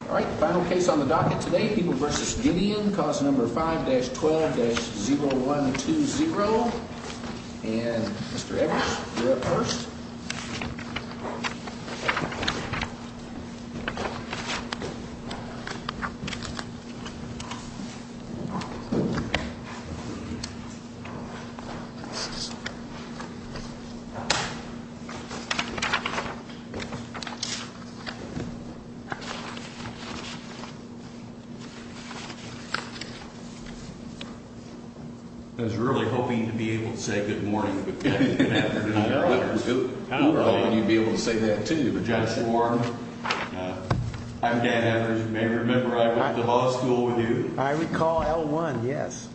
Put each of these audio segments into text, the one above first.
All right, final case on the docket today, People v. Gideon, cause number 5-12-0120, and Mr. Edwards, you're up first. I was really hoping to be able to say good morning. I thought you'd be able to say that too. I'm Dan Edwards. You may remember I went to law school with you. I recall L1, yes.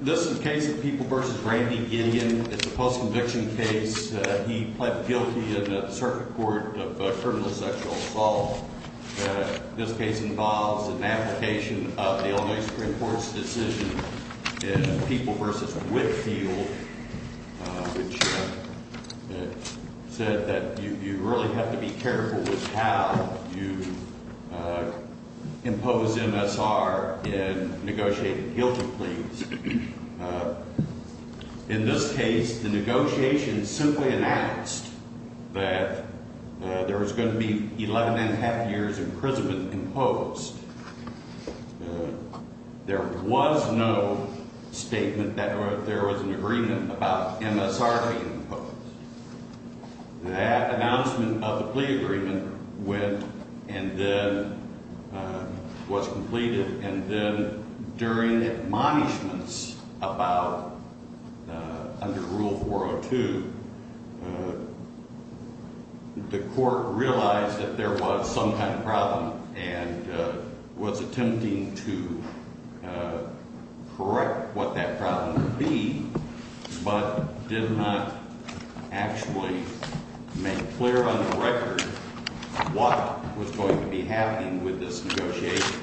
This is a case of People v. Randy Gideon. It's a post-conviction case. He pled guilty in a circuit court of criminal sexual assault. This case involves an application of the Illinois Supreme Court's decision in People v. Whitfield, which said that you really have to be careful with how you impose MSR in negotiating guilty pleas. In this case, the negotiation simply announced that there was going to be 11 1⁄2 years' imprisonment imposed. There was no statement that there was an agreement about MSR being imposed. That announcement of the plea agreement went and then was completed, and then during admonishments about under Rule 402, the court realized that there was some kind of problem and was attempting to correct what that problem would be, but did not actually make clear on the record what was going to be happening with this negotiation.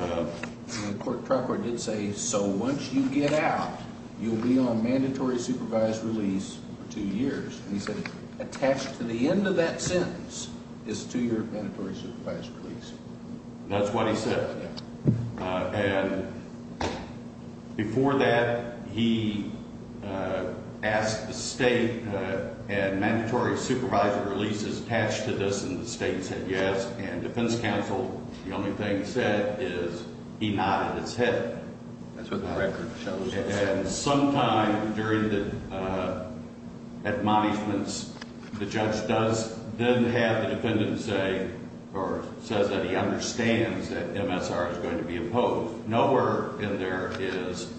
The court record did say, so once you get out, you'll be on mandatory supervised release for two years. He said attached to the end of that sentence is two-year mandatory supervised release. That's what he said. And before that, he asked the state, and mandatory supervised release is attached to this, and the state said yes. And defense counsel, the only thing he said is he nodded his head. That's what the record shows. And sometime during the admonishments, the judge does then have the defendant say or says that he understands that MSR is going to be imposed. So nowhere in there is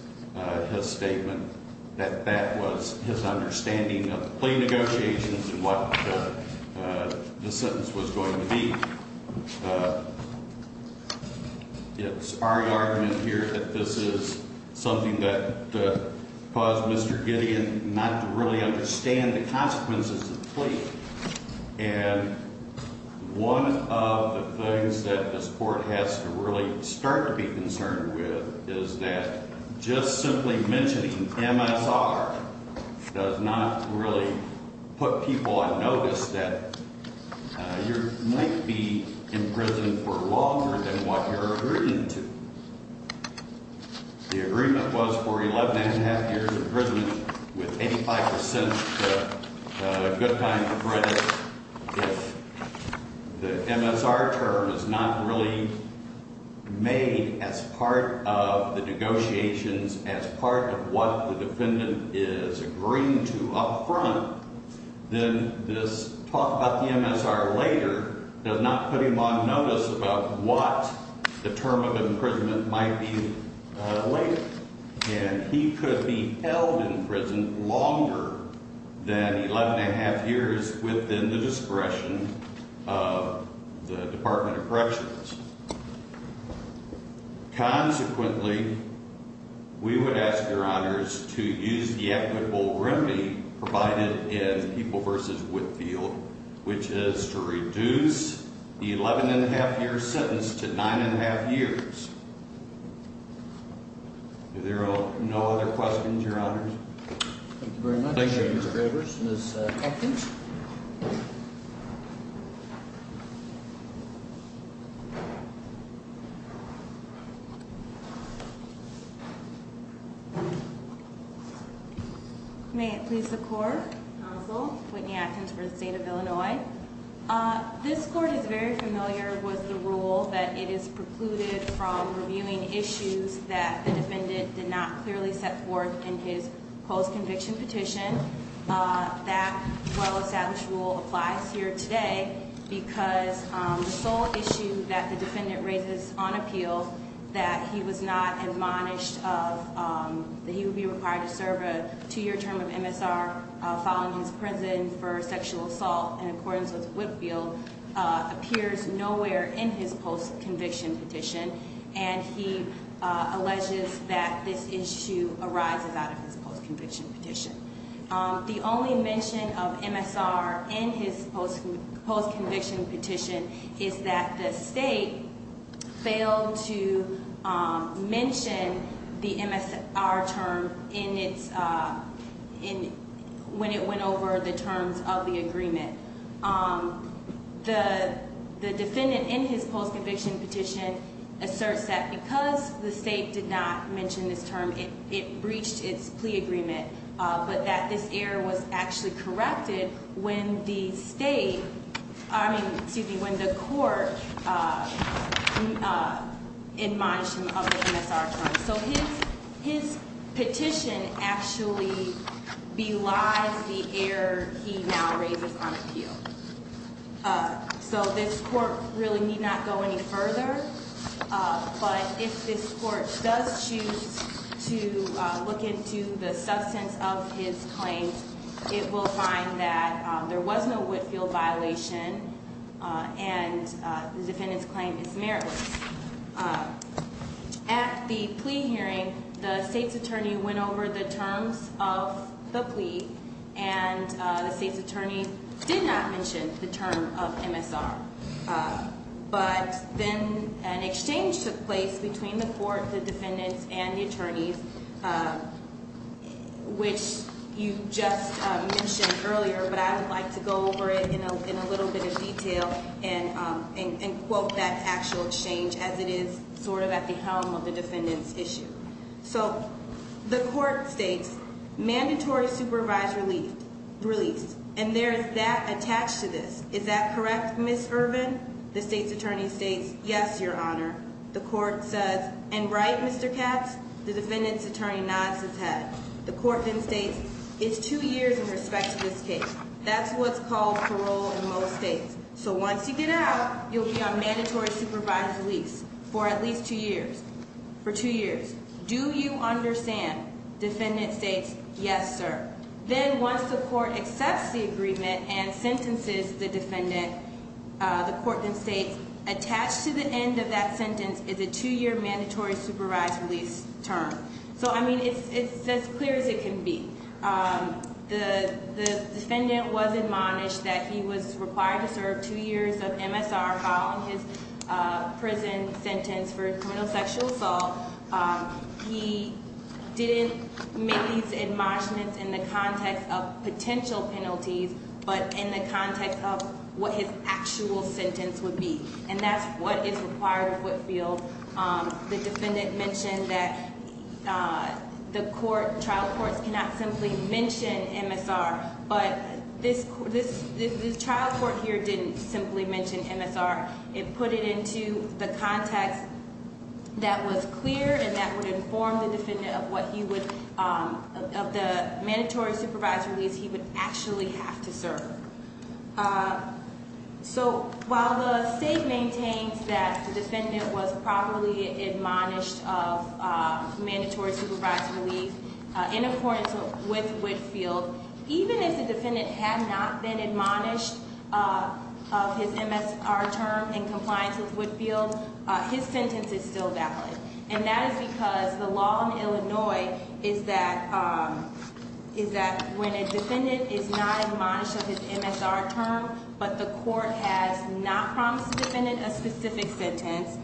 his statement that that was his understanding of the plea negotiations and what the sentence was going to be. It's our argument here that this is something that caused Mr. Gideon not to really understand the consequences of the plea. And one of the things that this court has to really start to be concerned with is that just simply mentioning MSR does not really put people on notice that you might be in prison for longer than what you're agreeing to. The agreement was for 11 1⁄2 years imprisonment with 85 percent good time for credit. If the MSR term is not really made as part of the negotiations, as part of what the defendant is agreeing to up front, then this talk about the MSR later does not put him on notice about what the term of imprisonment might be later. And he could be held in prison longer than 11 1⁄2 years within the discretion of the Department of Corrections. Consequently, we would ask, Your Honors, to use the equitable remedy provided in People v. Whitfield, which is to reduce the 11 1⁄2 year sentence to 9 1⁄2 years. Are there no other questions, Your Honors? Thank you very much. Thank you, Mr. Gravers. Ms. Hopkins? May it please the Court, counsel, Whitney Atkins for the State of Illinois. This Court is very familiar with the rule that it is precluded from reviewing issues that the defendant did not clearly set forth in his post-conviction petition. That well-established rule applies here today because the sole issue that the defendant raises on appeal, that he was not admonished of, that he would be required to serve a two-year term of MSR following his prison for sexual assault in accordance with Whitfield, appears nowhere in his post-conviction petition, and he alleges that this issue arises out of his post-conviction petition. The only mention of MSR in his post-conviction petition is that the State failed to mention the MSR term when it went over the terms of the agreement. The defendant in his post-conviction petition asserts that because the State did not mention this term, it breached its plea agreement, but that this error was actually corrected when the State, I mean, excuse me, when the Court admonished him of the MSR term. So his petition actually belies the error he now raises on appeal. So this Court really need not go any further, but if this Court does choose to look into the substance of his claims, it will find that there was no Whitfield violation and the defendant's claim is meritless. At the plea hearing, the State's attorney went over the terms of the plea, and the State's attorney did not mention the term of MSR. But then an exchange took place between the Court, the defendants, and the attorneys, which you just mentioned earlier, but I would like to go over it in a little bit of detail and quote that actual exchange as it is sort of at the helm of the defendant's issue. So the Court states, mandatory supervisor released, and there is that attached to this. Is that correct, Ms. Irvin? The State's attorney states, yes, Your Honor. The Court says, and right, Mr. Katz? The defendant's attorney nods his head. The Court then states, it's two years in respect to this case. That's what's called parole in most states. So once you get out, you'll be on mandatory supervised release for at least two years. For two years. Do you understand? Defendant states, yes, sir. Then once the Court accepts the agreement and sentences the defendant, the Court then states, attached to the end of that sentence is a two-year mandatory supervised release term. So, I mean, it's as clear as it can be. The defendant was admonished that he was required to serve two years of MSR following his prison sentence for criminal sexual assault. He didn't make these admonishments in the context of potential penalties, but in the context of what his actual sentence would be. And that's what is required of Whitfield. The defendant mentioned that the trial courts cannot simply mention MSR. But this trial court here didn't simply mention MSR. It put it into the context that was clear and that would inform the defendant of the mandatory supervised release he would actually have to serve. So, while the State maintains that the defendant was properly admonished of mandatory supervised release in accordance with Whitfield, even if the defendant had not been admonished of his MSR term in compliance with Whitfield, his sentence is still valid. And that is because the law in Illinois is that when a defendant is not admonished of his MSR term, but the court has not promised the defendant a specific sentence,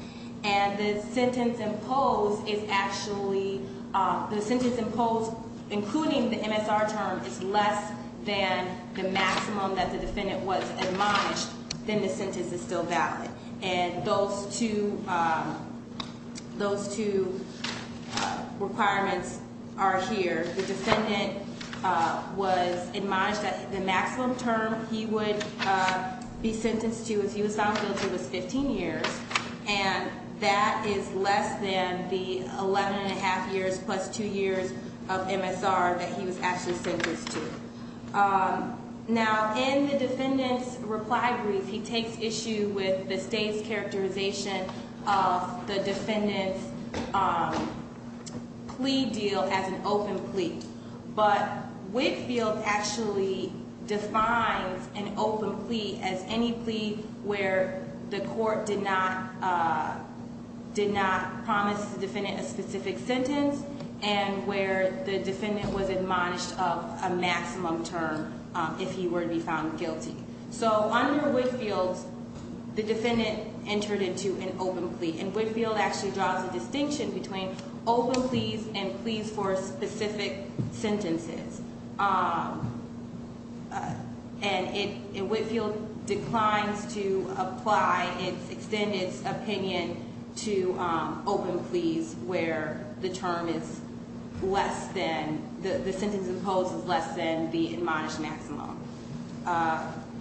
and the sentence imposed, including the MSR term, is less than the maximum that the defendant was admonished, then the sentence is still valid. And those two requirements are here. The defendant was admonished that the maximum term he would be sentenced to as he was found guilty was 15 years. And that is less than the 11 1⁄2 years plus 2 years of MSR that he was actually sentenced to. Now, in the defendant's reply brief, he takes issue with the State's characterization of the defendant's plea deal as an open plea. But Whitfield actually defines an open plea as any plea where the court did not promise the defendant a specific sentence and where the defendant was admonished of a maximum term if he were to be found guilty. So under Whitfield, the defendant entered into an open plea. And Whitfield actually draws a distinction between open pleas and pleas for specific sentences. And Whitfield declines to extend its opinion to open pleas where the sentence imposed is less than the admonished maximum.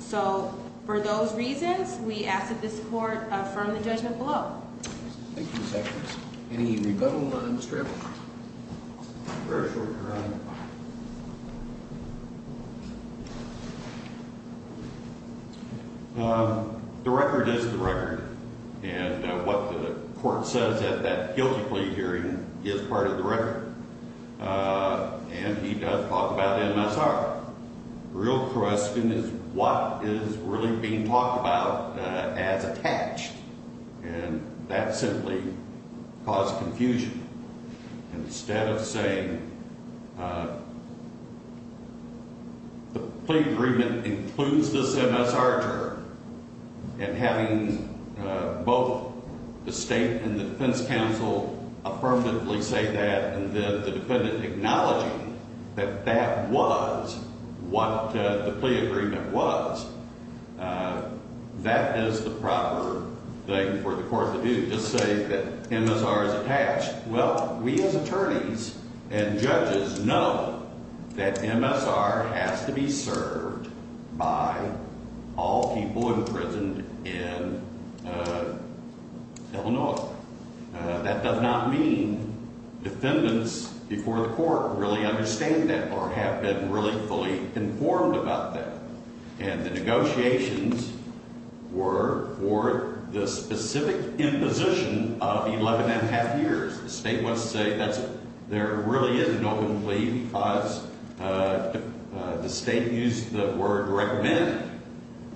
So for those reasons, we ask that this court affirm the judgment below. Thank you, Justice. Any rebuttal on Mr. Abel? Very shortly, Your Honor. The record is the record. And what the court says at that guilty plea hearing is part of the record. And he does talk about MSR. The real question is what is really being talked about as attached. And that simply caused confusion. And instead of saying the plea agreement includes this MSR term and having both the state and the defense counsel affirmatively say that and then the defendant acknowledging that that was what the plea agreement was, that is the proper thing for the court to do, to say that MSR is attached. Well, we as attorneys and judges know that MSR has to be served by all people imprisoned in Illinois. That does not mean defendants before the court really understand that or have been really fully informed about that. And the negotiations were for the specific imposition of 11 1⁄2 years. The state wants to say there really is an open plea because the state used the word recommend.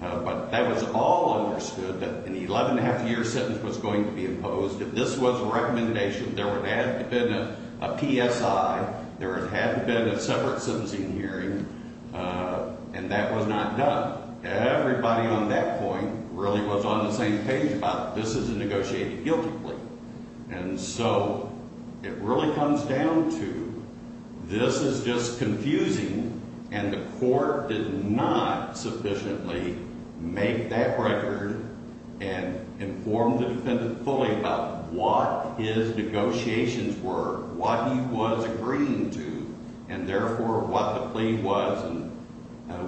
But that was all understood that an 11 1⁄2-year sentence was going to be imposed. If this was a recommendation, there would have been a PSI. There would have been a separate sentencing hearing. And that was not done. Everybody on that point really was on the same page about this is a negotiated guilty plea. And so it really comes down to this is just confusing, and the court did not sufficiently make that record and inform the defendant fully about what his negotiations were, what he was agreeing to, and therefore what the plea was. And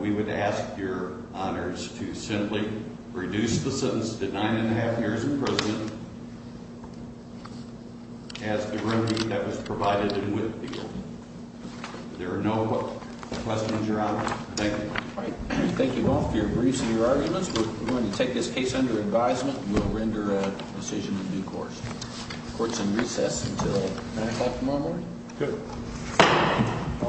we would ask your honors to simply reduce the sentence to 9 1⁄2 years in prison as the remedy that was provided in Whitfield. There are no questions, your honors. Thank you. Thank you all for your briefs and your arguments. We're going to take this case under advisement. We'll render a decision in due course. Court's in recess until 9 o'clock tomorrow morning. Good.